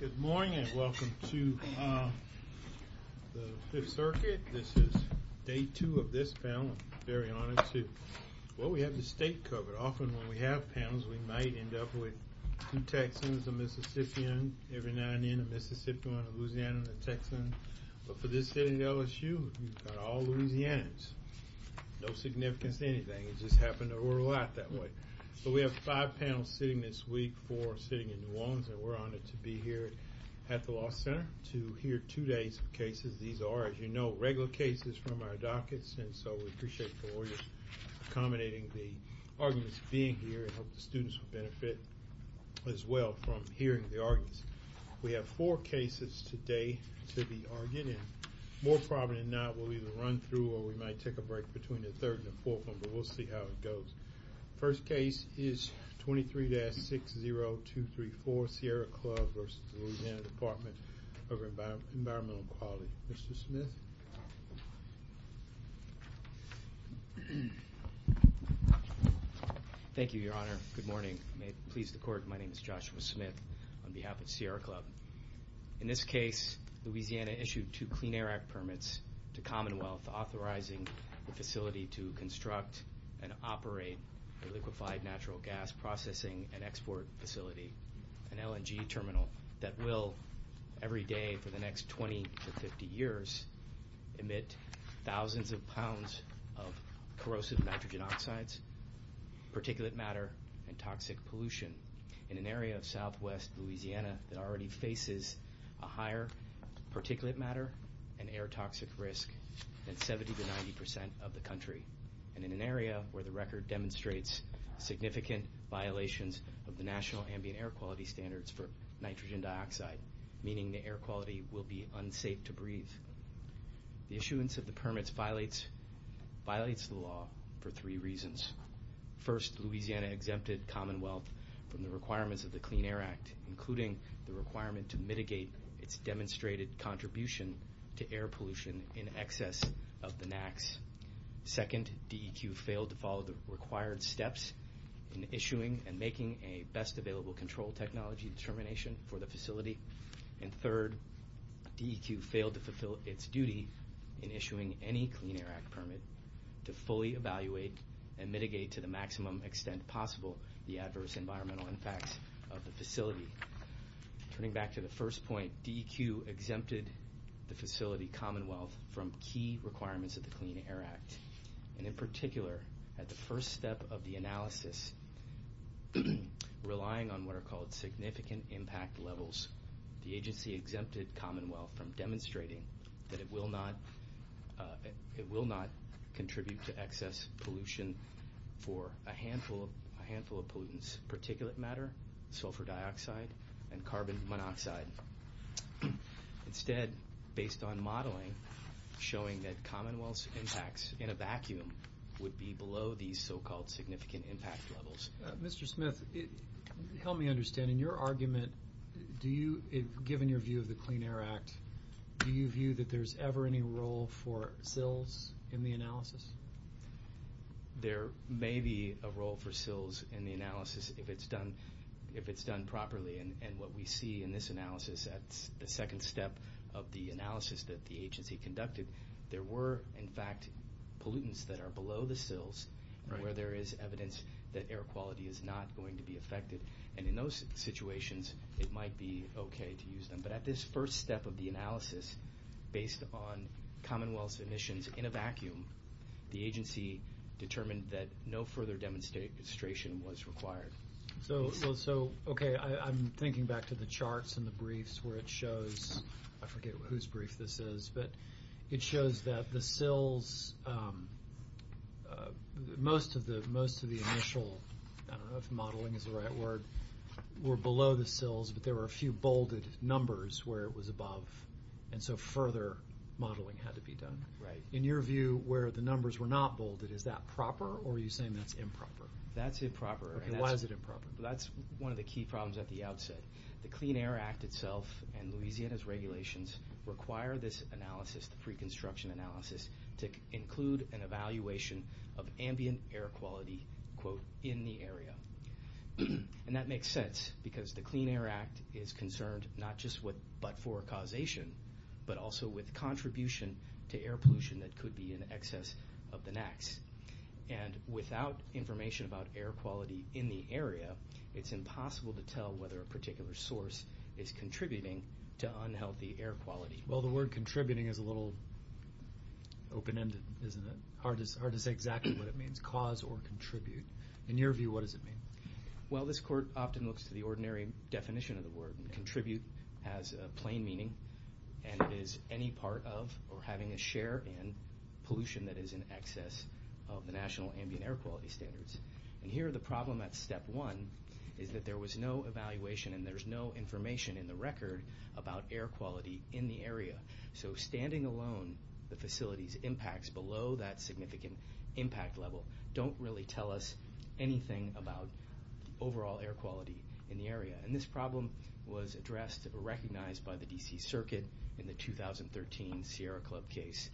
Good morning and welcome to the 5th Circuit. This is day two of this panel, I'm very honored to. Well, we have the state covered. Often when we have panels, we might end up with two Texans, a Mississippian, every now and then a Mississippian, a Louisiana, a Texan. But for this sitting at LSU, we've got all Louisianans. No significance to anything, it just happened to roll out that way. So we have five panels sitting this week, four sitting in New Orleans, and we're honored to be here at the Law Center to hear two days of cases. These are, as you know, regular cases from our dockets, and so we appreciate the lawyers accommodating the arguments being here. I hope the students will benefit as well from hearing the arguments. We have four cases today to be argued in. More probably than not, we'll either run through or we might take a break between the third and the fourth one, but we'll see how it goes. First case is 23-60234, Sierra Club versus the Louisiana Department of Environmental Quality. Mr. Smith. Thank you, Your Honor. Good morning. May it please the court, my name is Joshua Smith on behalf of Sierra Club. In this case, Louisiana issued two Clean Air Act permits to Commonwealth, authorizing the facility to construct and operate a liquefied natural gas processing and export facility, an LNG terminal that will, every day for the next 20 to 50 years, emit thousands of pounds of corrosive nitrogen oxides, particulate matter, and toxic pollution in an area of southwest Louisiana that already faces a higher particulate matter and air toxic risk than 70 to 90 percent of the country, and in an area where the record demonstrates significant violations of the national ambient air quality standards for nitrogen dioxide, meaning the air quality will be unsafe to breathe. The issuance of the permits violates the law for three reasons. First, Louisiana exempted Commonwealth from the requirements of the Clean Air Act, including the requirement to mitigate its demonstrated contribution to air pollution in excess of the NAAQS. Second, DEQ failed to follow the required steps in issuing and making a best available control technology determination for the facility. And third, DEQ failed to fulfill its duty in issuing any Clean Air Act permit to fully evaluate and mitigate to the maximum extent possible the adverse environmental impacts of the facility. Turning back to the first point, DEQ exempted the facility, Commonwealth, from key requirements of the Clean Air Act, and in particular, at the first step of the analysis, relying on what are called significant impact levels, the agency exempted Commonwealth from demonstrating that it will not contribute to excess pollution for a handful of pollutants, particulate matter, sulfur dioxide, and carbon monoxide. Instead, based on modeling, showing that Commonwealth's impacts in a vacuum would be below these so-called significant impact levels. Mr. Smith, help me understand. In your argument, given your view of the Clean Air Act, do you view that there's ever any role for SILs in the analysis? There may be a role for SILs in the analysis if it's done properly, and what we see in this analysis at the second step of the analysis that the agency conducted, there were, in fact, pollutants that are below the SILs where there is evidence that air quality is not going to be affected, and in those situations, it might be okay to use them. But at this first step of the analysis, based on Commonwealth's emissions in a vacuum, the agency determined that no further demonstration was required. So, okay, I'm thinking back to the charts and the briefs where it shows, I forget whose brief this is, but it shows that the SILs, most of the initial, I don't know if modeling is the right word, were below the SILs, but there were a few bolded numbers where it was above, and so further modeling had to be done. Right. In your view, where the numbers were not bolded, is that proper, or are you saying that's improper? That's improper. Okay, why is it improper? That's one of the key problems at the outset. The Clean Air Act itself and Louisiana's regulations require this analysis, the pre-construction analysis, to include an evaluation of ambient air quality, quote, in the area. And that makes sense because the Clean Air Act is concerned not just with but-for causation, but also with contribution to air pollution that could be in excess of the NACs. And without information about air quality in the area, it's impossible to tell whether a particular source is contributing to unhealthy air quality. Well, the word contributing is a little open-ended, isn't it? Hard to say exactly what it means, cause or contribute. In your view, what does it mean? Well, this court often looks to the ordinary definition of the word. Contribute has a plain meaning, and it is any part of or having a share in pollution that is in excess of the national ambient air quality standards. And here the problem at step one is that there was no evaluation and there's no information in the record about air quality in the area. So standing alone, the facility's impacts below that significant impact level don't really tell us anything about overall air quality in the area. And this problem was addressed or recognized by the D.C. Circuit in the 2013 Sierra Club case,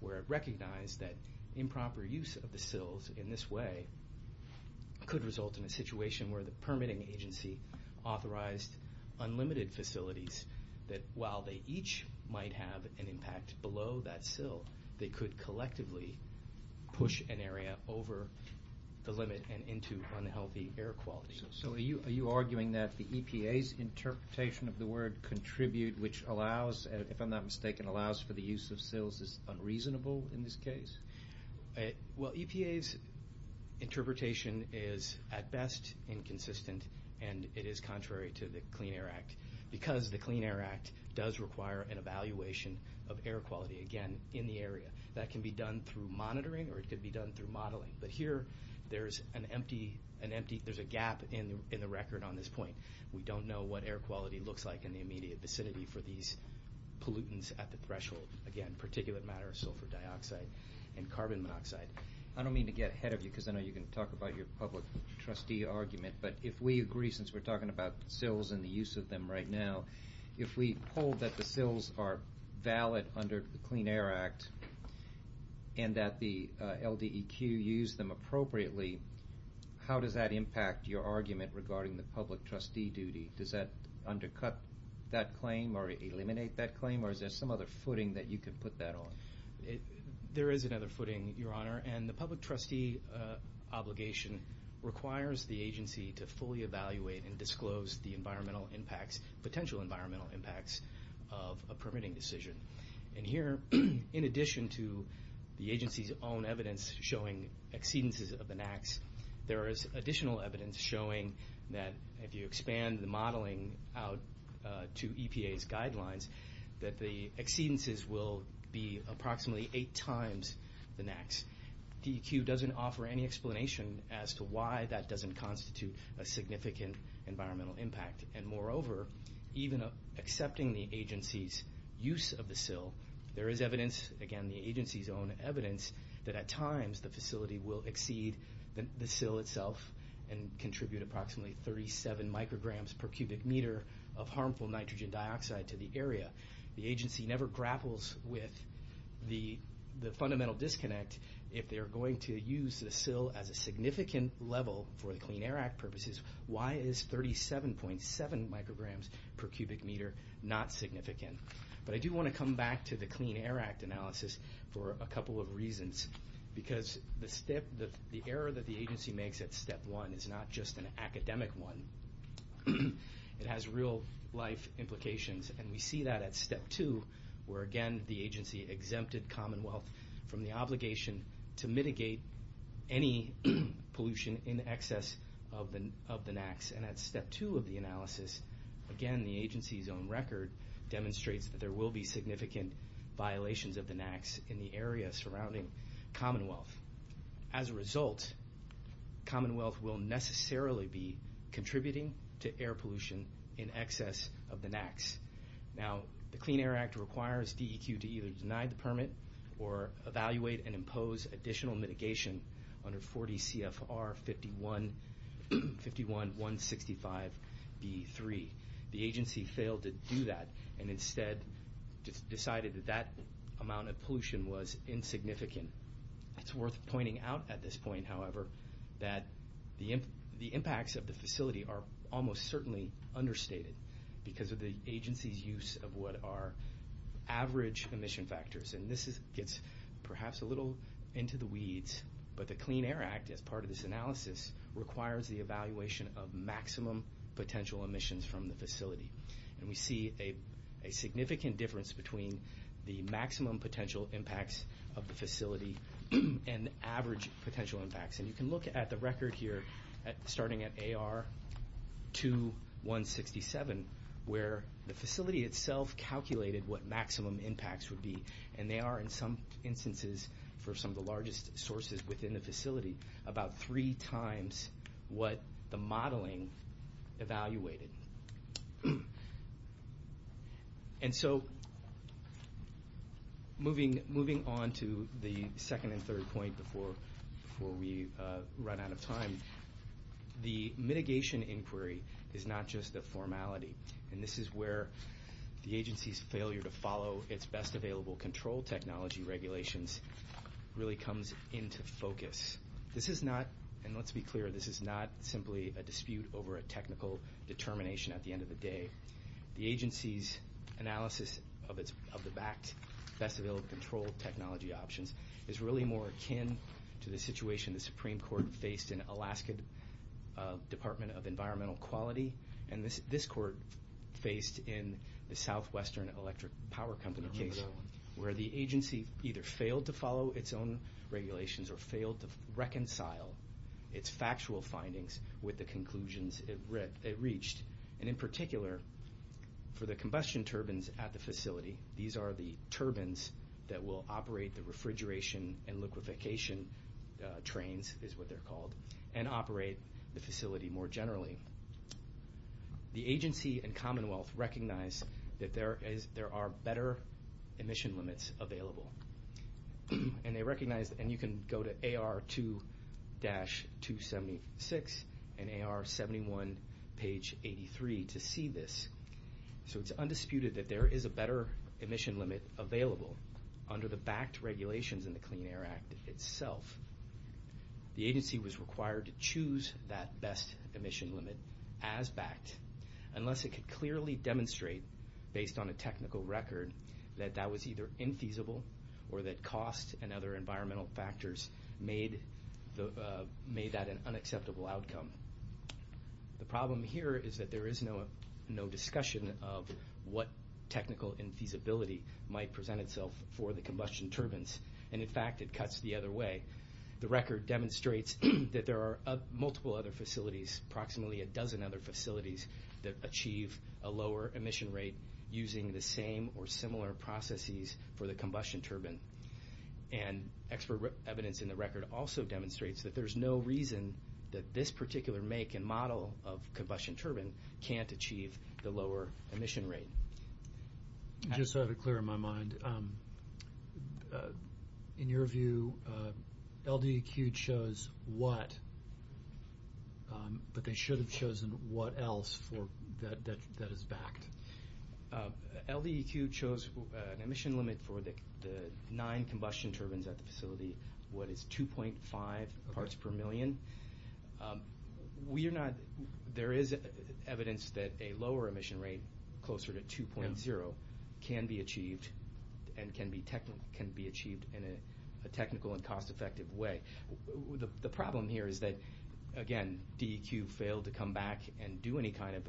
where it recognized that improper use of the sills in this way could result in a situation where the permitting agency authorized unlimited facilities that while they each might have an impact below that sill, they could collectively push an area over the limit and into unhealthy air quality. So are you arguing that the EPA's interpretation of the word contribute, which allows, if I'm not mistaken, allows for the use of sills is unreasonable in this case? Well, EPA's interpretation is at best inconsistent, and it is contrary to the Clean Air Act, because the Clean Air Act does require an evaluation of air quality, again, in the area. That can be done through monitoring or it could be done through modeling. But here there's an empty – there's a gap in the record on this point. We don't know what air quality looks like in the immediate vicinity for these pollutants at the threshold. Again, particulate matter, sulfur dioxide, and carbon monoxide. I don't mean to get ahead of you, because I know you're going to talk about your public trustee argument, but if we agree, since we're talking about sills and the use of them right now, if we hold that the sills are valid under the Clean Air Act and that the LDEQ use them appropriately, how does that impact your argument regarding the public trustee duty? Does that undercut that claim or eliminate that claim, or is there some other footing that you can put that on? There is another footing, Your Honor, and the public trustee obligation requires the agency to fully evaluate and disclose the environmental impacts, potential environmental impacts of a permitting decision. And here, in addition to the agency's own evidence showing exceedances of the NAAQS, there is additional evidence showing that if you expand the modeling out to EPA's guidelines, that the exceedances will be approximately eight times the NAAQS. DEQ doesn't offer any explanation as to why that doesn't constitute a significant environmental impact. And moreover, even accepting the agency's use of the sill, there is evidence, again, the agency's own evidence that at times the facility will exceed the sill itself and contribute approximately 37 micrograms per cubic meter of harmful nitrogen dioxide to the area. The agency never grapples with the fundamental disconnect. If they're going to use the sill as a significant level for the Clean Air Act purposes, why is 37.7 micrograms per cubic meter not significant? But I do want to come back to the Clean Air Act analysis for a couple of reasons, because the error that the agency makes at step one is not just an academic one. It has real-life implications, and we see that at step two, where, again, the agency exempted Commonwealth from the obligation to mitigate any pollution in excess of the NAAQS. And at step two of the analysis, again, the agency's own record demonstrates that there will be significant violations of the NAAQS in the area surrounding Commonwealth. As a result, Commonwealth will necessarily be contributing to air pollution in excess of the NAAQS. Now, the Clean Air Act requires DEQ to either deny the permit or evaluate and impose additional mitigation under 40 CFR 51-165-B3. The agency failed to do that and instead decided that that amount of pollution was insignificant. It's worth pointing out at this point, however, that the impacts of the facility are almost certainly understated because of the agency's use of what are average emission factors. And this gets perhaps a little into the weeds, but the Clean Air Act, as part of this analysis, requires the evaluation of maximum potential emissions from the facility. And we see a significant difference between the maximum potential impacts of the facility and the average potential impacts. And you can look at the record here, starting at AR 2167, where the facility itself calculated what maximum impacts would be. And they are, in some instances, for some of the largest sources within the facility, about three times what the modeling evaluated. And so moving on to the second and third point before we run out of time, the mitigation inquiry is not just a formality, and this is where the agency's failure to follow its best available control technology regulations really comes into focus. This is not, and let's be clear, this is not simply a dispute over a technical determination at the end of the day. The agency's analysis of the BACT, Best Available Control Technology Options, is really more akin to the situation the Supreme Court faced in Alaska Department of Environmental Quality and this court faced in the Southwestern Electric Power Company case, where the agency either failed to follow its own regulations or failed to reconcile its factual findings with the conclusions it reached. And in particular, for the combustion turbines at the facility, these are the turbines that will operate the refrigeration and liquefaction trains, is what they're called, and operate the facility more generally. The agency and Commonwealth recognize that there are better emission limits available. And they recognize, and you can go to AR 2-276 and AR 71, page 83, to see this. So it's undisputed that there is a better emission limit available under the BACT regulations in the Clean Air Act itself. The agency was required to choose that best emission limit as BACT unless it could clearly demonstrate, based on a technical record, that that was either infeasible or that cost and other environmental factors made that an unacceptable outcome. The problem here is that there is no discussion of what technical infeasibility might present itself for the combustion turbines. And in fact, it cuts the other way. The record demonstrates that there are multiple other facilities, approximately a dozen other facilities, that achieve a lower emission rate using the same or similar processes for the combustion turbine. And expert evidence in the record also demonstrates that there's no reason that this particular make and model of combustion turbine can't achieve the lower emission rate. Just to have it clear in my mind, in your view, LDEQ chose what, but they should have chosen what else that is BACT? LDEQ chose an emission limit for the nine combustion turbines at the facility, what is 2.5 parts per million. There is evidence that a lower emission rate, closer to 2.0, can be achieved and can be achieved in a technical and cost-effective way. The problem here is that, again, DEQ failed to come back and do any kind of,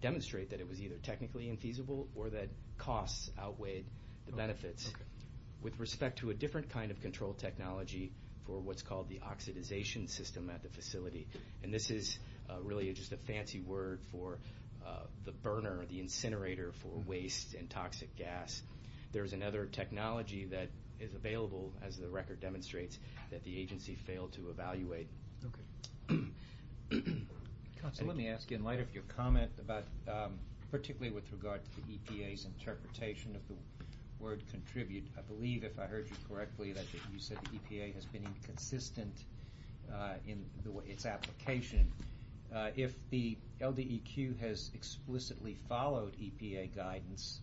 demonstrate that it was either technically infeasible or that costs outweighed the benefits. With respect to a different kind of control technology for what's called the oxidization system at the facility, and this is really just a fancy word for the burner, the incinerator for waste and toxic gas, there's another technology that is available, as the record demonstrates, that the agency failed to evaluate. Let me ask, in light of your comment about, particularly with regard to the EPA's interpretation of the word contribute, I believe, if I heard you correctly, that you said the EPA has been inconsistent in its application. If the LDEQ has explicitly followed EPA guidance,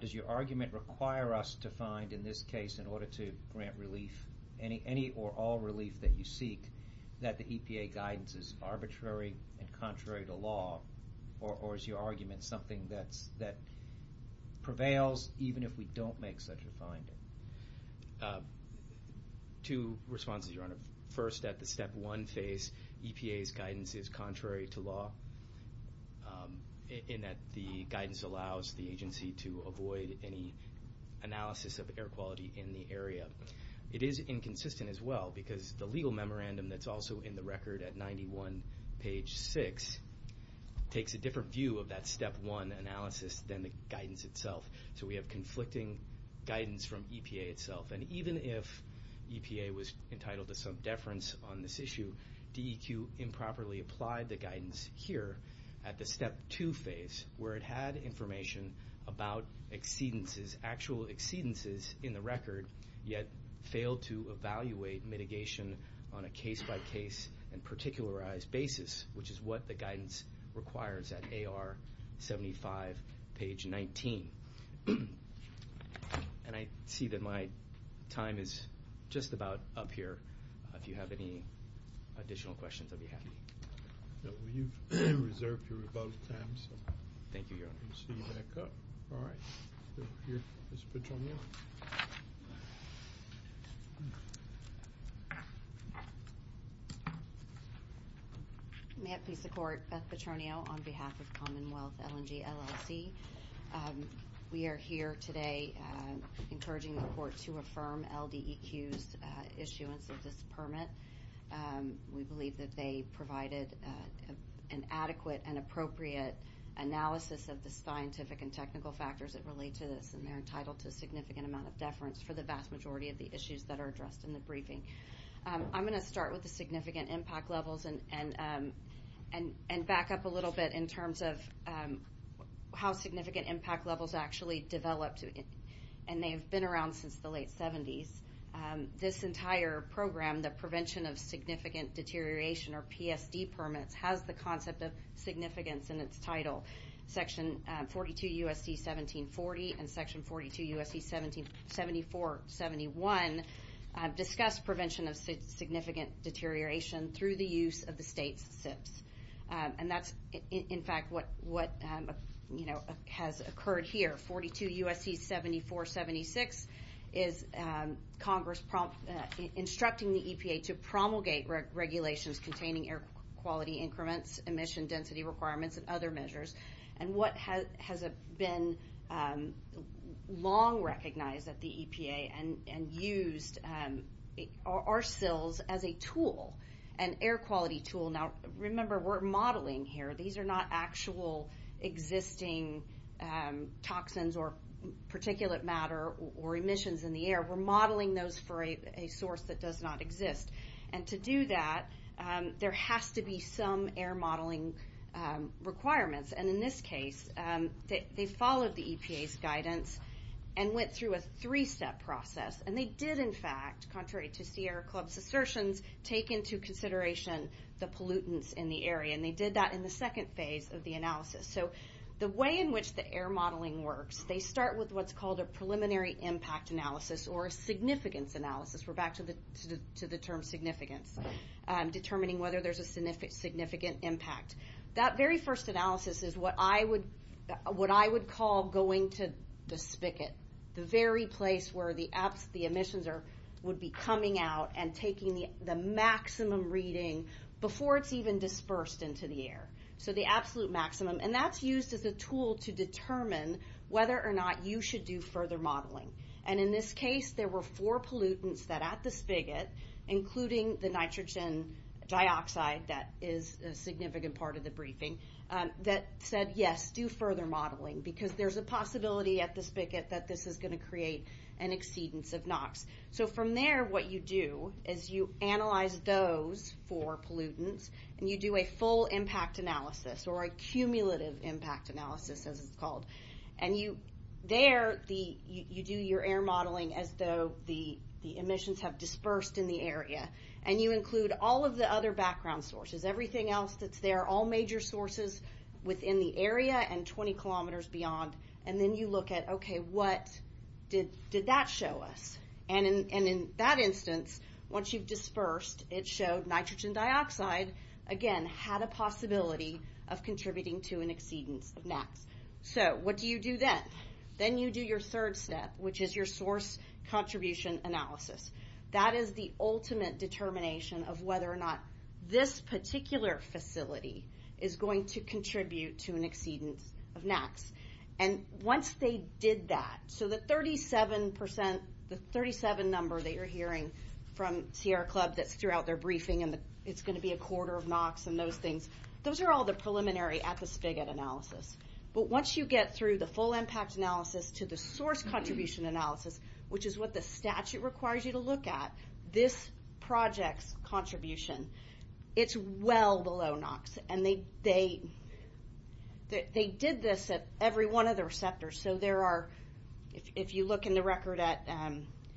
does your argument require us to find, in this case, in order to grant relief, any or all relief that you seek, that the EPA guidance is arbitrary and contrary to law or is your argument something that prevails even if we don't make such a finding? Two responses, Your Honor. First, at the step one phase, EPA's guidance is contrary to law, in that the guidance allows the agency to avoid any analysis of air quality in the area. It is inconsistent as well, because the legal memorandum that's also in the record at 91 page 6 takes a different view of that step one analysis than the guidance itself. So we have conflicting guidance from EPA itself. And even if EPA was entitled to some deference on this issue, DEQ improperly applied the guidance here at the step two phase, yet failed to evaluate mitigation on a case-by-case and particularized basis, which is what the guidance requires at AR 75 page 19. And I see that my time is just about up here. If you have any additional questions, I'll be happy. Well, you've reserved your rebuttal time, so we'll see you back up. All right. Here, Ms. Petronio. May it please the Court, Beth Petronio on behalf of Commonwealth LNG LLC. We are here today encouraging the Court to affirm LDEQ's issuance of this permit. We believe that they provided an adequate and appropriate analysis of the scientific and technical factors that relate to this, and they're entitled to a significant amount of deference for the vast majority of the issues that are addressed in the briefing. I'm going to start with the significant impact levels and back up a little bit in terms of how significant impact levels actually developed. And they've been around since the late 70s. This entire program, the Prevention of Significant Deterioration, or PSD permits, has the concept of significance in its title. Section 42 U.S.C. 1740 and Section 42 U.S.C. 7471 discuss prevention of significant deterioration through the use of the state's SIPs. And that's, in fact, what has occurred here. 42 U.S.C. 7476 is Congress instructing the EPA to promulgate regulations containing air quality increments, emission density requirements, and other measures. And what has been long recognized at the EPA and used are SILs as a tool, an air quality tool. Now, remember, we're modeling here. These are not actual existing toxins or particulate matter or emissions in the air. We're modeling those for a source that does not exist. And to do that, there has to be some air modeling requirements. And in this case, they followed the EPA's guidance and went through a three-step process. And they did, in fact, contrary to Sierra Club's assertions, take into consideration the pollutants in the area. And they did that in the second phase of the analysis. So the way in which the air modeling works, they start with what's called a preliminary impact analysis or a significance analysis. We're back to the term significance, determining whether there's a significant impact. That very first analysis is what I would call going to the spigot, the very place where the emissions would be coming out and taking the maximum reading before it's even dispersed into the air. So the absolute maximum. And that's used as a tool to determine whether or not you should do further modeling. And in this case, there were four pollutants that at the spigot, including the nitrogen dioxide that is a significant part of the briefing, that said, yes, do further modeling. Because there's a possibility at the spigot that this is going to create an exceedance of NOx. So from there, what you do is you analyze those four pollutants, and you do a full impact analysis or a cumulative impact analysis, as it's called. And there, you do your air modeling as though the emissions have dispersed in the area. And you include all of the other background sources, everything else that's there, all major sources within the area and 20 kilometers beyond. And then you look at, okay, what did that show us? And in that instance, once you've dispersed, it showed nitrogen dioxide, again, had a possibility of contributing to an exceedance of NOx. So what do you do then? Then you do your third step, which is your source contribution analysis. That is the ultimate determination of whether or not this particular facility is going to contribute to an exceedance of NOx. And once they did that, so the 37 number that you're hearing from Sierra Club that's throughout their briefing, and it's going to be a quarter of NOx and those things, those are all the preliminary at the spigot analysis. But once you get through the full impact analysis to the source contribution analysis, which is what the statute requires you to look at, this project's contribution, it's well below NOx. And they did this at every one of the receptors. So there are, if you look in the record at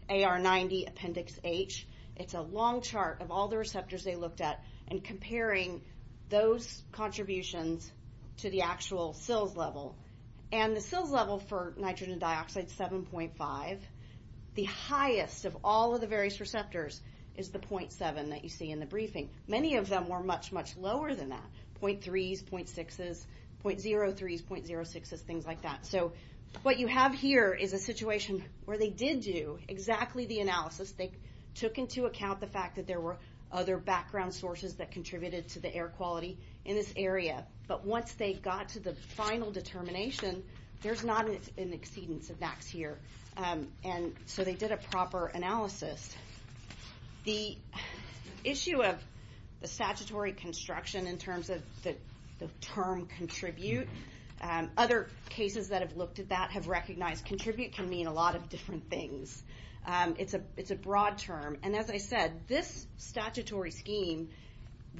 AR90 Appendix H, it's a long chart of all the receptors they looked at and comparing those contributions to the actual SILs level. And the SILs level for nitrogen dioxide is 7.5. The highest of all of the various receptors is the .7 that you see in the briefing. Many of them were much, much lower than that, .3s, .6s, .03s, .06s, things like that. So what you have here is a situation where they did do exactly the analysis. They took into account the fact that there were other background sources that contributed to the air quality in this area. But once they got to the final determination, there's not an exceedance of NOx here. And so they did a proper analysis. The issue of the statutory construction in terms of the term contribute, other cases that have looked at that have recognized contribute can mean a lot of different things. It's a broad term. And as I said, this statutory scheme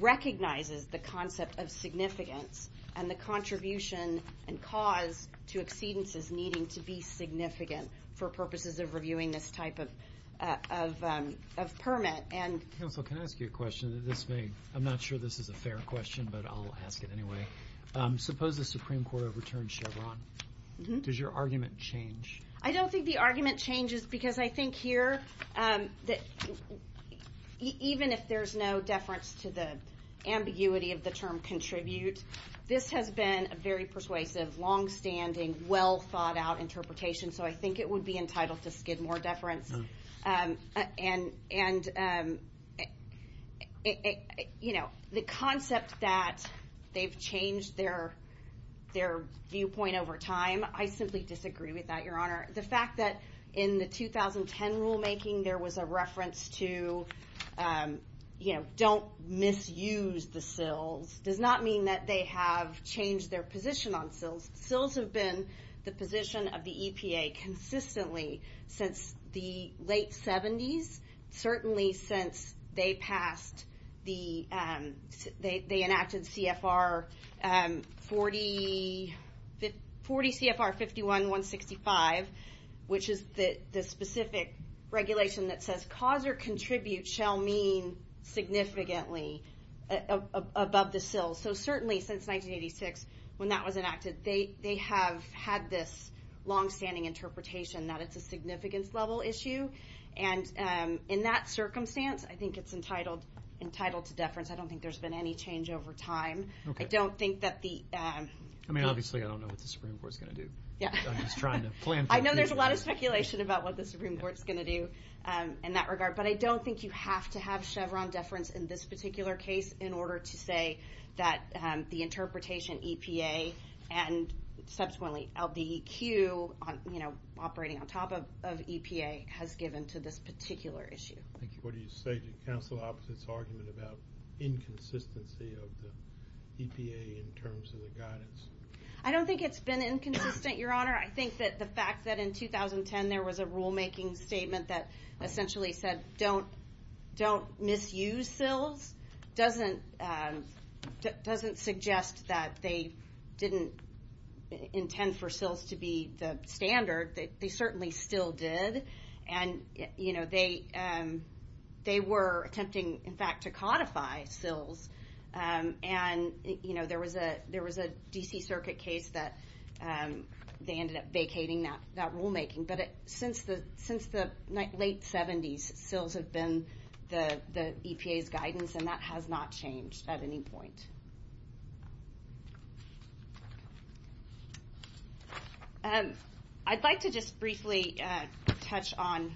recognizes the concept of significance and the contribution and cause to exceedances needing to be significant for purposes of reviewing this type of permit. Counsel, can I ask you a question? I'm not sure this is a fair question, but I'll ask it anyway. Suppose the Supreme Court overturned Chevron. Does your argument change? I don't think the argument changes because I think here, even if there's no deference to the ambiguity of the term contribute, this has been a very persuasive, longstanding, well-thought-out interpretation. So I think it would be entitled to skid more deference. The concept that they've changed their viewpoint over time, I simply disagree with that, Your Honor. The fact that in the 2010 rulemaking there was a reference to don't misuse the SILs does not mean that they have changed their position on SILs. SILs have been the position of the EPA consistently since the late 70s, certainly since they enacted CFR 40 CFR 51-165, which is the specific regulation that says cause or contribute shall mean significantly above the SILs. So certainly since 1986 when that was enacted, they have had this longstanding interpretation that it's a significance level issue. And in that circumstance, I think it's entitled to deference. I don't think there's been any change over time. I don't think that the— I mean, obviously I don't know what the Supreme Court's going to do. I'm just trying to plan for it. I know there's a lot of speculation about what the Supreme Court's going to do in that regard, but I don't think you have to have Chevron deference in this particular case in order to say that the interpretation EPA and subsequently LDEQ, you know, operating on top of EPA, has given to this particular issue. Thank you. What do you say to counsel opposite's argument about inconsistency of the EPA in terms of the guidance? I don't think it's been inconsistent, Your Honor. I think that the fact that in 2010 there was a rulemaking statement that essentially said don't misuse SILs doesn't suggest that they didn't intend for SILs to be the standard. They certainly still did. And, you know, they were attempting, in fact, to codify SILs. And, you know, there was a D.C. Circuit case that they ended up vacating that rulemaking. But since the late 70s, SILs have been the EPA's guidance, and that has not changed at any point. I'd like to just briefly touch on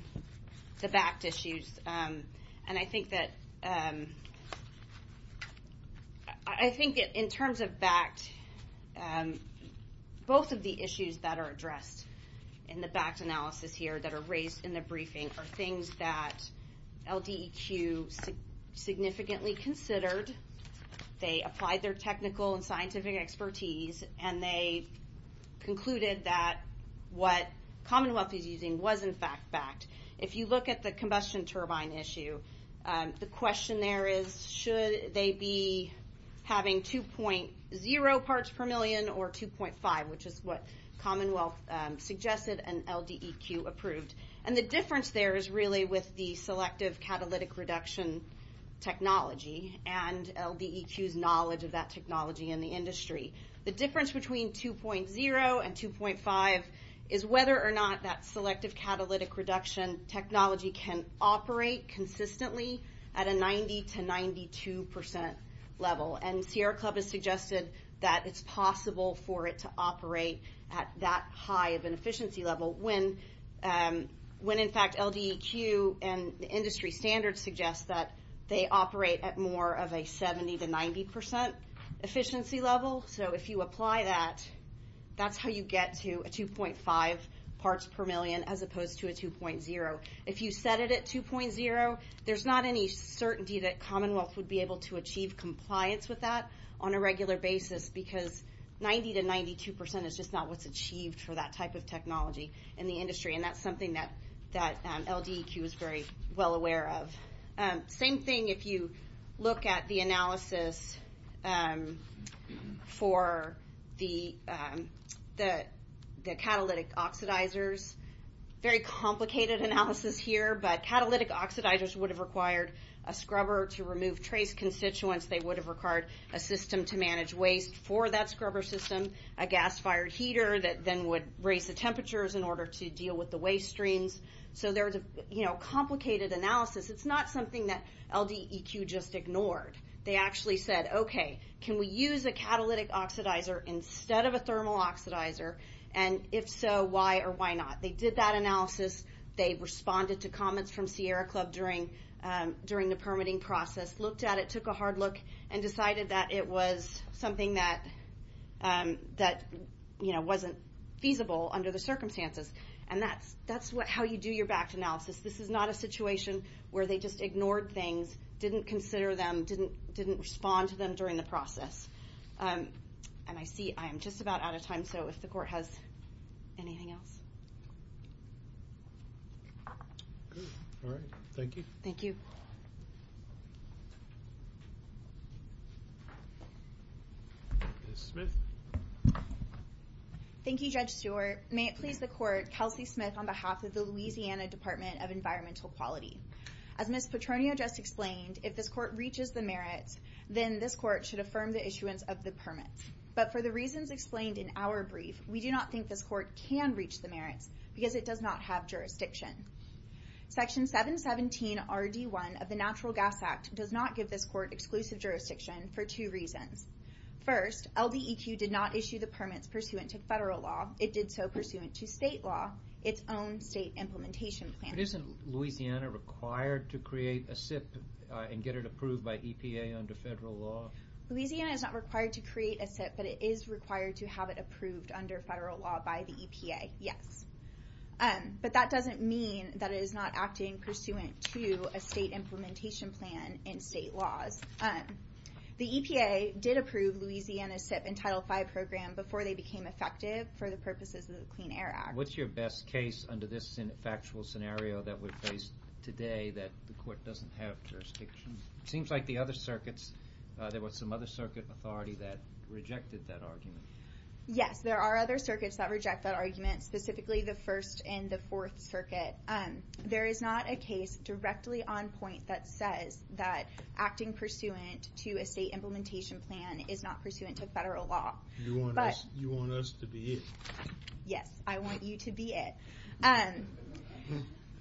the BACT issues. And I think that in terms of BACT, both of the issues that are addressed in the BACT analysis here that are raised in the briefing are things that LDEQ significantly considered. They applied their technical and scientific expertise, and they concluded that what Commonwealth is using was, in fact, BACT. If you look at the combustion turbine issue, the question there is should they be having 2.0 parts per million or 2.5, which is what Commonwealth suggested and LDEQ approved. And the difference there is really with the selective catalytic reduction technology and LDEQ's knowledge of that technology in the industry. The difference between 2.0 and 2.5 is whether or not that selective catalytic reduction technology can operate consistently at a 90 to 92 percent level. And Sierra Club has suggested that it's possible for it to operate at that high of an efficiency level when, in fact, LDEQ and the industry standards suggest that they operate at more of a 70 to 90 percent efficiency level. So if you apply that, that's how you get to a 2.5 parts per million as opposed to a 2.0. If you set it at 2.0, there's not any certainty that Commonwealth would be able to achieve compliance with that on a regular basis because 90 to 92 percent is just not what's achieved for that type of technology in the industry, and that's something that LDEQ is very well aware of. Same thing if you look at the analysis for the catalytic oxidizers. Very complicated analysis here, but catalytic oxidizers would have required a scrubber to remove trace constituents. They would have required a system to manage waste for that scrubber system, a gas-fired heater that then would raise the temperatures in order to deal with the waste streams. So there's a complicated analysis. It's not something that LDEQ just ignored. They actually said, okay, can we use a catalytic oxidizer instead of a thermal oxidizer, and if so, why or why not? They did that analysis. They responded to comments from Sierra Club during the permitting process, looked at it, took a hard look, and decided that it was something that wasn't feasible under the circumstances. And that's how you do your backed analysis. This is not a situation where they just ignored things, didn't consider them, didn't respond to them during the process. And I see I am just about out of time, so if the Court has anything else. All right. Thank you. Thank you. Ms. Smith. Thank you, Judge Stewart. May it please the Court, Kelsey Smith on behalf of the Louisiana Department of Environmental Quality. As Ms. Petronio just explained, if this Court reaches the merits, then this Court should affirm the issuance of the permit. But for the reasons explained in our brief, we do not think this Court can reach the merits because it does not have jurisdiction. Section 717RD1 of the Natural Gas Act does not give this Court exclusive jurisdiction for two reasons. First, LDEQ did not issue the permits pursuant to federal law. It did so pursuant to state law, its own state implementation plan. But isn't Louisiana required to create a SIP and get it approved by EPA under federal law? Louisiana is not required to create a SIP, but it is required to have it approved under federal law by the EPA, yes. But that doesn't mean that it is not acting pursuant to a state implementation plan and state laws. The EPA did approve Louisiana's SIP and Title V program before they became effective for the purposes of the Clean Air Act. What's your best case under this factual scenario that we face today that the Court doesn't have jurisdiction? It seems like the other circuits, there was some other circuit authority that rejected that argument. Yes, there are other circuits that reject that argument, specifically the First and the Fourth Circuit. There is not a case directly on point that says that acting pursuant to a state implementation plan is not pursuant to federal law. You want us to be it? Yes, I want you to be it.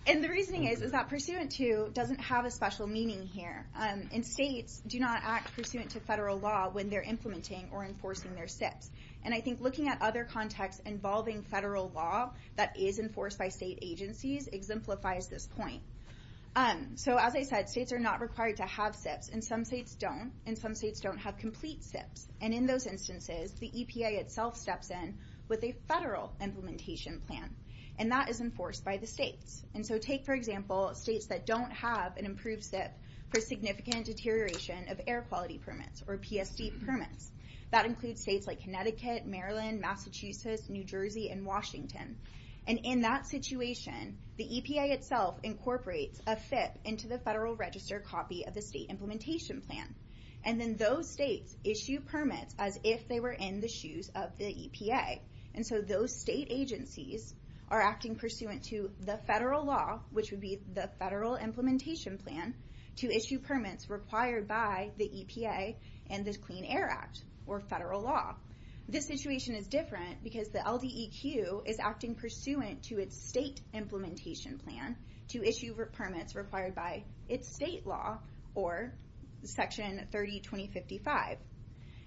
And the reasoning is that pursuant to doesn't have a special meaning here. And states do not act pursuant to federal law when they're implementing or enforcing their SIPs. And I think looking at other contexts involving federal law that is enforced by state agencies exemplifies this point. So as I said, states are not required to have SIPs. And some states don't. And some states don't have complete SIPs. And in those instances, the EPA itself steps in with a federal implementation plan. And that is enforced by the states. And so take, for example, states that don't have an approved SIP for significant deterioration of air quality permits or PSD permits. That includes states like Connecticut, Maryland, Massachusetts, New Jersey, and Washington. And in that situation, the EPA itself incorporates a SIP into the federal register copy of the state implementation plan. And then those states issue permits as if they were in the shoes of the EPA. And so those state agencies are acting pursuant to the federal law, which would be the federal implementation plan, to issue permits required by the EPA and the Clean Air Act or federal law. This situation is different because the LDEQ is acting pursuant to its state implementation plan to issue permits required by its state law or Section 302055.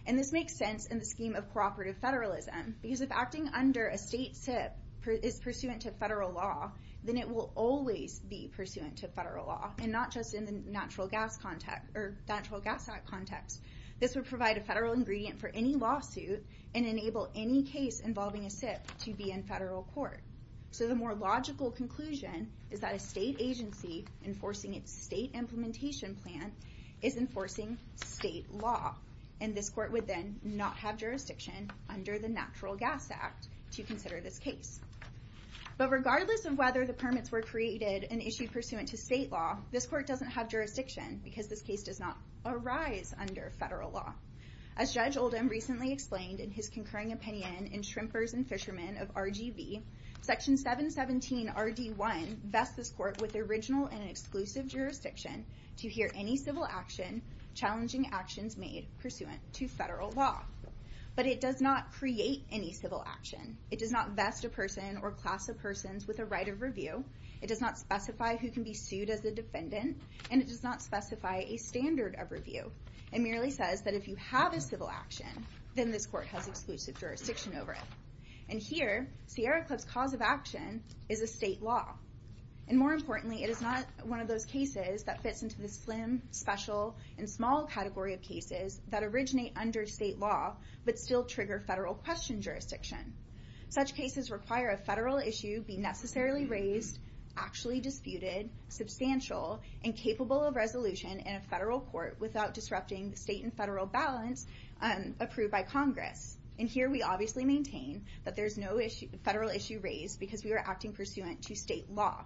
And this makes sense in the scheme of cooperative federalism because if acting under a state SIP is pursuant to federal law, then it will always be pursuant to federal law and not just in the Natural Gas Act context. This would provide a federal ingredient for any lawsuit and enable any case involving a SIP to be in federal court. So the more logical conclusion is that a state agency enforcing its state implementation plan is enforcing state law. And this court would then not have jurisdiction under the Natural Gas Act to consider this case. But regardless of whether the permits were created an issue pursuant to state law, this court doesn't have jurisdiction because this case does not arise under federal law. As Judge Oldham recently explained in his concurring opinion in Shrimpers and Fishermen of RGV, Section 717RD1 vests this court with original and exclusive jurisdiction to hear any civil action challenging actions made pursuant to federal law. But it does not create any civil action. It does not vest a person or class of persons with a right of review. It does not specify who can be sued as a defendant. And it does not specify a standard of review. It merely says that if you have a civil action, then this court has exclusive jurisdiction over it. And here, Sierra Club's cause of action is a state law. And more importantly, it is not one of those cases that fits into the slim, special, and small category of cases that originate under state law but still trigger federal question jurisdiction. Such cases require a federal issue be necessarily raised, actually disputed, substantial, and capable of resolution in a federal court without disrupting the state and federal balance approved by Congress. And here we obviously maintain that there is no federal issue raised because we are acting pursuant to state law.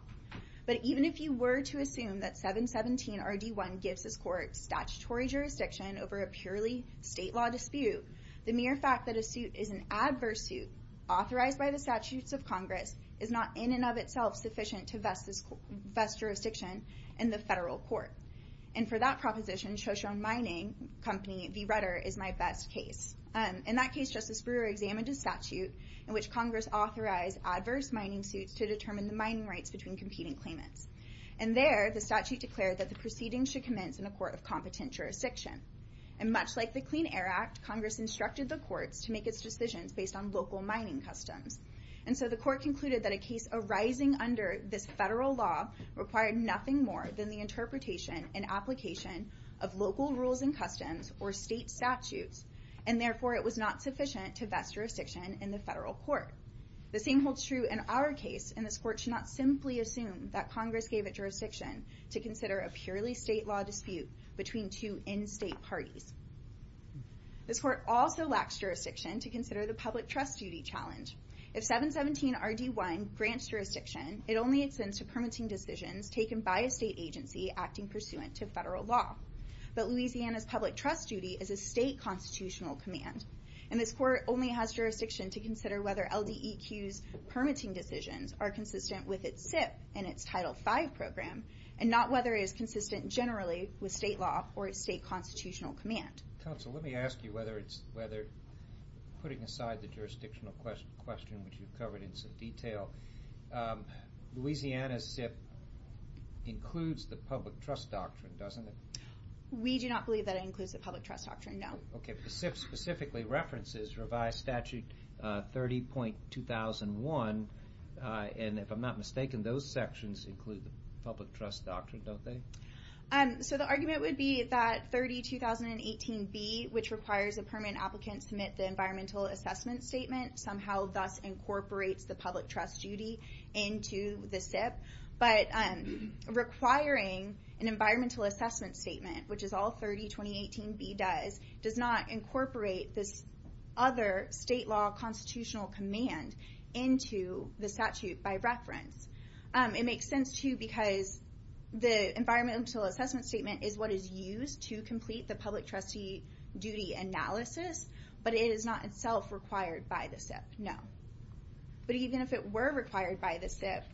But even if you were to assume that 717RD1 gives this court statutory jurisdiction over a purely state law dispute, the mere fact that a suit is an adverse suit authorized by the statutes of Congress is not in and of itself sufficient to vest jurisdiction in the federal court. And for that proposition, Shoshone Mining Company v. Rutter is my best case. In that case, Justice Brewer examined a statute in which Congress authorized adverse mining suits to determine the mining rights between competing claimants. And there, the statute declared that the proceedings should commence in a court of competent jurisdiction. And much like the Clean Air Act, Congress instructed the courts to make its decisions based on local mining customs. And so the court concluded that a case arising under this federal law required nothing more than the interpretation and application of local rules and customs or state statutes. And therefore, it was not sufficient to vest jurisdiction in the federal court. The same holds true in our case. And this court should not simply assume that Congress gave it jurisdiction to consider a purely state law dispute between two in-state parties. This court also lacks jurisdiction to consider the public trust duty challenge. If 717RD1 grants jurisdiction, it only extends to permitting decisions taken by a state agency acting pursuant to federal law. But Louisiana's public trust duty is a state constitutional command. And this court only has jurisdiction to consider whether LDEQ's permitting decisions are consistent with its SIP and its Title V program, and not whether it is consistent generally with state law or its state constitutional command. Counsel, let me ask you whether putting aside the jurisdictional question, which you've covered in some detail, Louisiana's SIP includes the public trust doctrine, doesn't it? We do not believe that it includes the public trust doctrine, no. Okay, but the SIP specifically references revised Statute 30.2001. And if I'm not mistaken, those sections include the public trust doctrine, don't they? So the argument would be that 30.2018B, which requires a permanent applicant to submit the environmental assessment statement, somehow thus incorporates the public trust duty into the SIP. But requiring an environmental assessment statement, which is all 30.2018B does, does not incorporate this other state law constitutional command into the statute by reference. It makes sense, too, because the environmental assessment statement is what is used to complete the public trustee duty analysis, but it is not itself required by the SIP, no. But even if it were required by the SIP,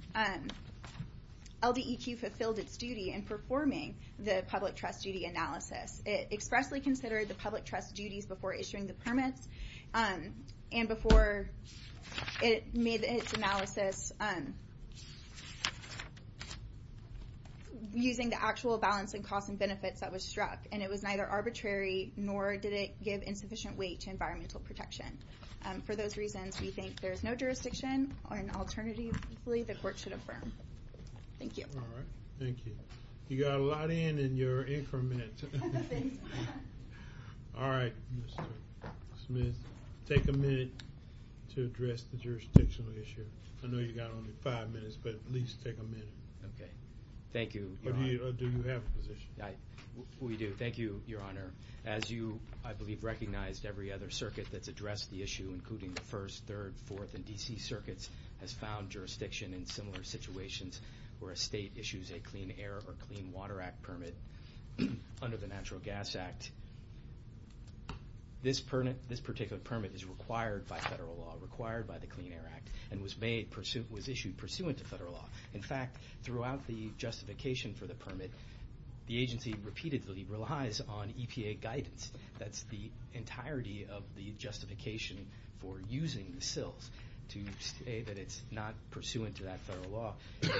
LDEQ fulfilled its duty in performing the public trust duty analysis. It expressly considered the public trust duties before issuing the permits, and before it made its analysis using the actual balance in costs and benefits that was struck. And it was neither arbitrary nor did it give insufficient weight to environmental protection. For those reasons, we think there is no jurisdiction, and alternatively, the court should affirm. Thank you. All right, thank you. You got a lot in, and you're in for a minute. All right, Mr. Smith, take a minute to address the jurisdictional issue. I know you've got only five minutes, but at least take a minute. Okay. Thank you, Your Honor. Do you have a position? We do. Thank you, Your Honor. As you, I believe, recognized, every other circuit that's addressed the issue, including the first, third, fourth, and D.C. circuits, has found jurisdiction in similar situations where a state issues a Clean Air or Clean Water Act permit. Under the Natural Gas Act, this particular permit is required by federal law, required by the Clean Air Act, and was issued pursuant to federal law. In fact, throughout the justification for the permit, the agency repeatedly relies on EPA guidance. That's the entirety of the justification for using the SILs to say that it's not pursuant to that federal law.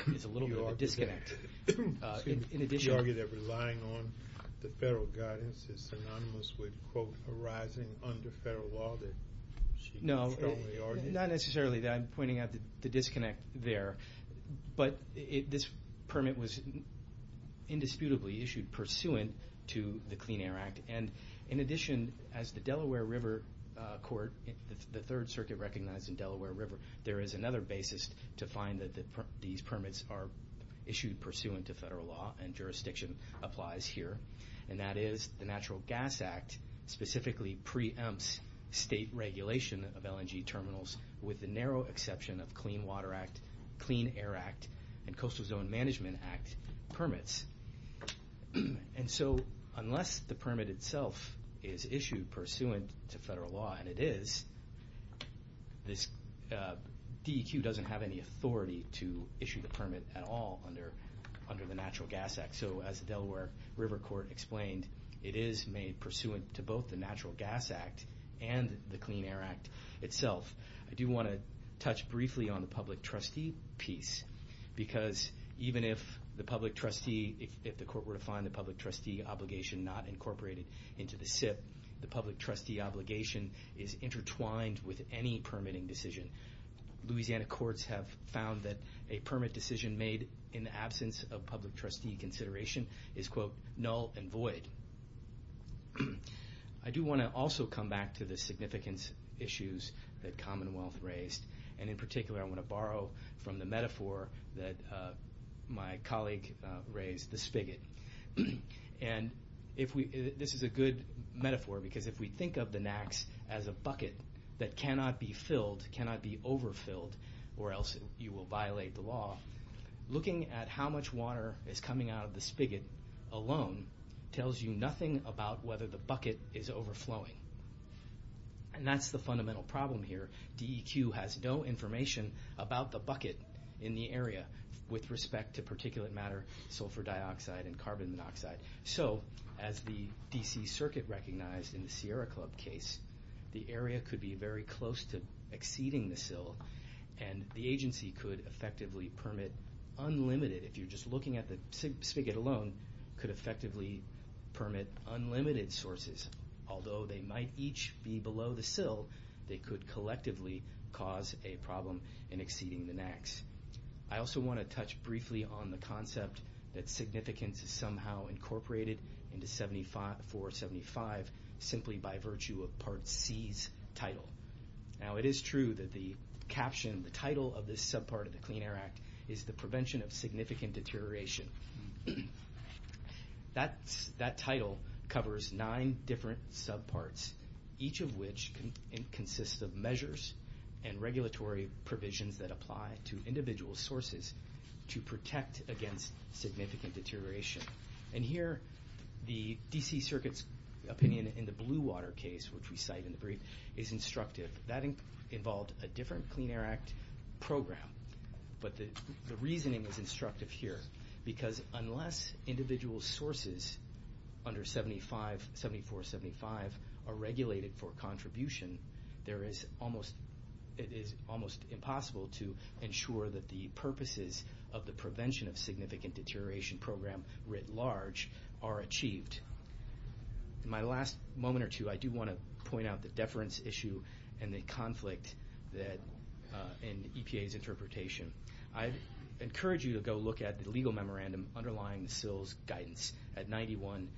It's a little bit of a disconnect. In addition to that. She argued that relying on the federal guidance is synonymous with, quote, arising under federal law that she strongly argued. Not necessarily. I'm pointing out the disconnect there. But this permit was indisputably issued pursuant to the Clean Air Act, and in addition, as the Delaware River Court, the third circuit recognized in Delaware River, there is another basis to find that these permits are issued pursuant to federal law, and jurisdiction applies here, and that is the Natural Gas Act specifically preempts state regulation of LNG terminals, with the narrow exception of Clean Water Act, Clean Air Act, and Coastal Zone Management Act permits. And so unless the permit itself is issued pursuant to federal law, and it is, DEQ doesn't have any authority to issue the permit at all under the Natural Gas Act. So as the Delaware River Court explained, it is made pursuant to both the Natural Gas Act and the Clean Air Act itself. I do want to touch briefly on the public trustee piece, because even if the court were to find the public trustee obligation not incorporated into the SIP, the public trustee obligation is intertwined with any permitting decision. Louisiana courts have found that a permit decision made in the absence of public trustee consideration is, quote, null and void. I do want to also come back to the significance issues that Commonwealth raised, and in particular I want to borrow from the metaphor that my colleague raised, the spigot. And this is a good metaphor, because if we think of the NAX as a bucket that cannot be filled, cannot be overfilled, or else you will violate the law, looking at how much water is coming out of the spigot alone tells you nothing about whether the bucket is overflowing. And that's the fundamental problem here. DEQ has no information about the bucket in the area with respect to particulate matter, sulfur dioxide, and carbon monoxide. So as the DC Circuit recognized in the Sierra Club case, the area could be very close to exceeding the sill, and the agency could effectively permit unlimited, if you're just looking at the spigot alone, could effectively permit unlimited sources. Although they might each be below the sill, they could collectively cause a problem in exceeding the NAX. I also want to touch briefly on the concept that significance is somehow incorporated into 475 simply by virtue of Part C's title. Now it is true that the caption, the title of this subpart of the Clean Air Act, is the prevention of significant deterioration. That title covers nine different subparts, each of which consists of measures and regulatory provisions that apply to individual sources to protect against significant deterioration. And here the DC Circuit's opinion in the Blue Water case, which we cite in the brief, is instructive. That involved a different Clean Air Act program, but the reasoning is instructive here because unless individual sources under 7475 are regulated for contribution, it is almost impossible to ensure that the purposes of the prevention of significant deterioration program writ large are achieved. In my last moment or two, I do want to point out the deference issue and the conflict in EPA's interpretation. I encourage you to go look at the legal memorandum underlying the SILS guidance at 91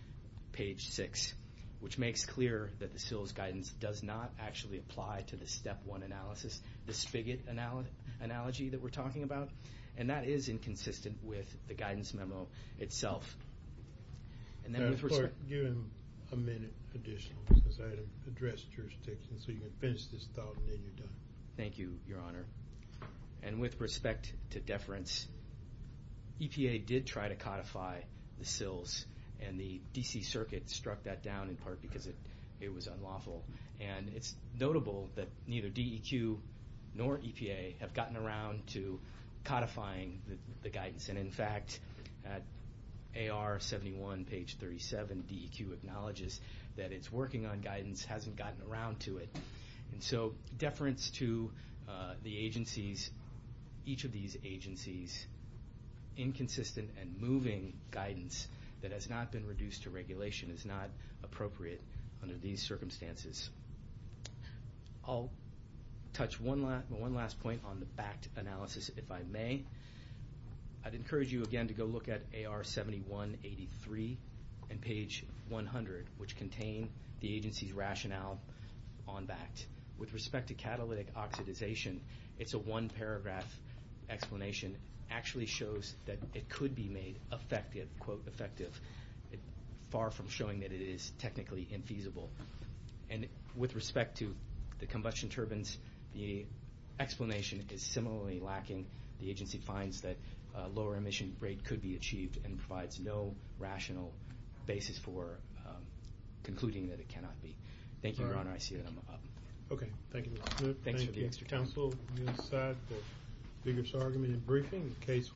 page 6, which makes clear that the SILS guidance does not actually apply to the step one analysis, the spigot analogy that we're talking about, and that is inconsistent with the guidance memo itself. And then with respect... Give him a minute additional because I had to address jurisdiction so you can finish this thought and then you're done. Thank you, Your Honor. And with respect to deference, EPA did try to codify the SILS, and the D.C. Circuit struck that down in part because it was unlawful. And it's notable that neither DEQ nor EPA have gotten around to codifying the guidance. And in fact, at AR 71 page 37, DEQ acknowledges that its working on guidance hasn't gotten around to it. And so deference to the agencies, each of these agencies, inconsistent and moving guidance that has not been reduced to regulation is not appropriate under these circumstances. I'll touch one last point on the BACT analysis, if I may. I'd encourage you again to go look at AR 71 83 and page 100, which contain the agency's rationale on BACT. With respect to catalytic oxidization, it's a one-paragraph explanation. It actually shows that it could be made effective, quote, effective, far from showing that it is technically infeasible. And with respect to the combustion turbines, the explanation is similarly lacking. The agency finds that a lower emission rate could be achieved and provides no rational basis for concluding that it cannot be. Thank you, Your Honor. I see that I'm up. Okay. Thank you, Mr. Smith. Thank you, Mr. Counsel. We will decide the figures argument in briefing.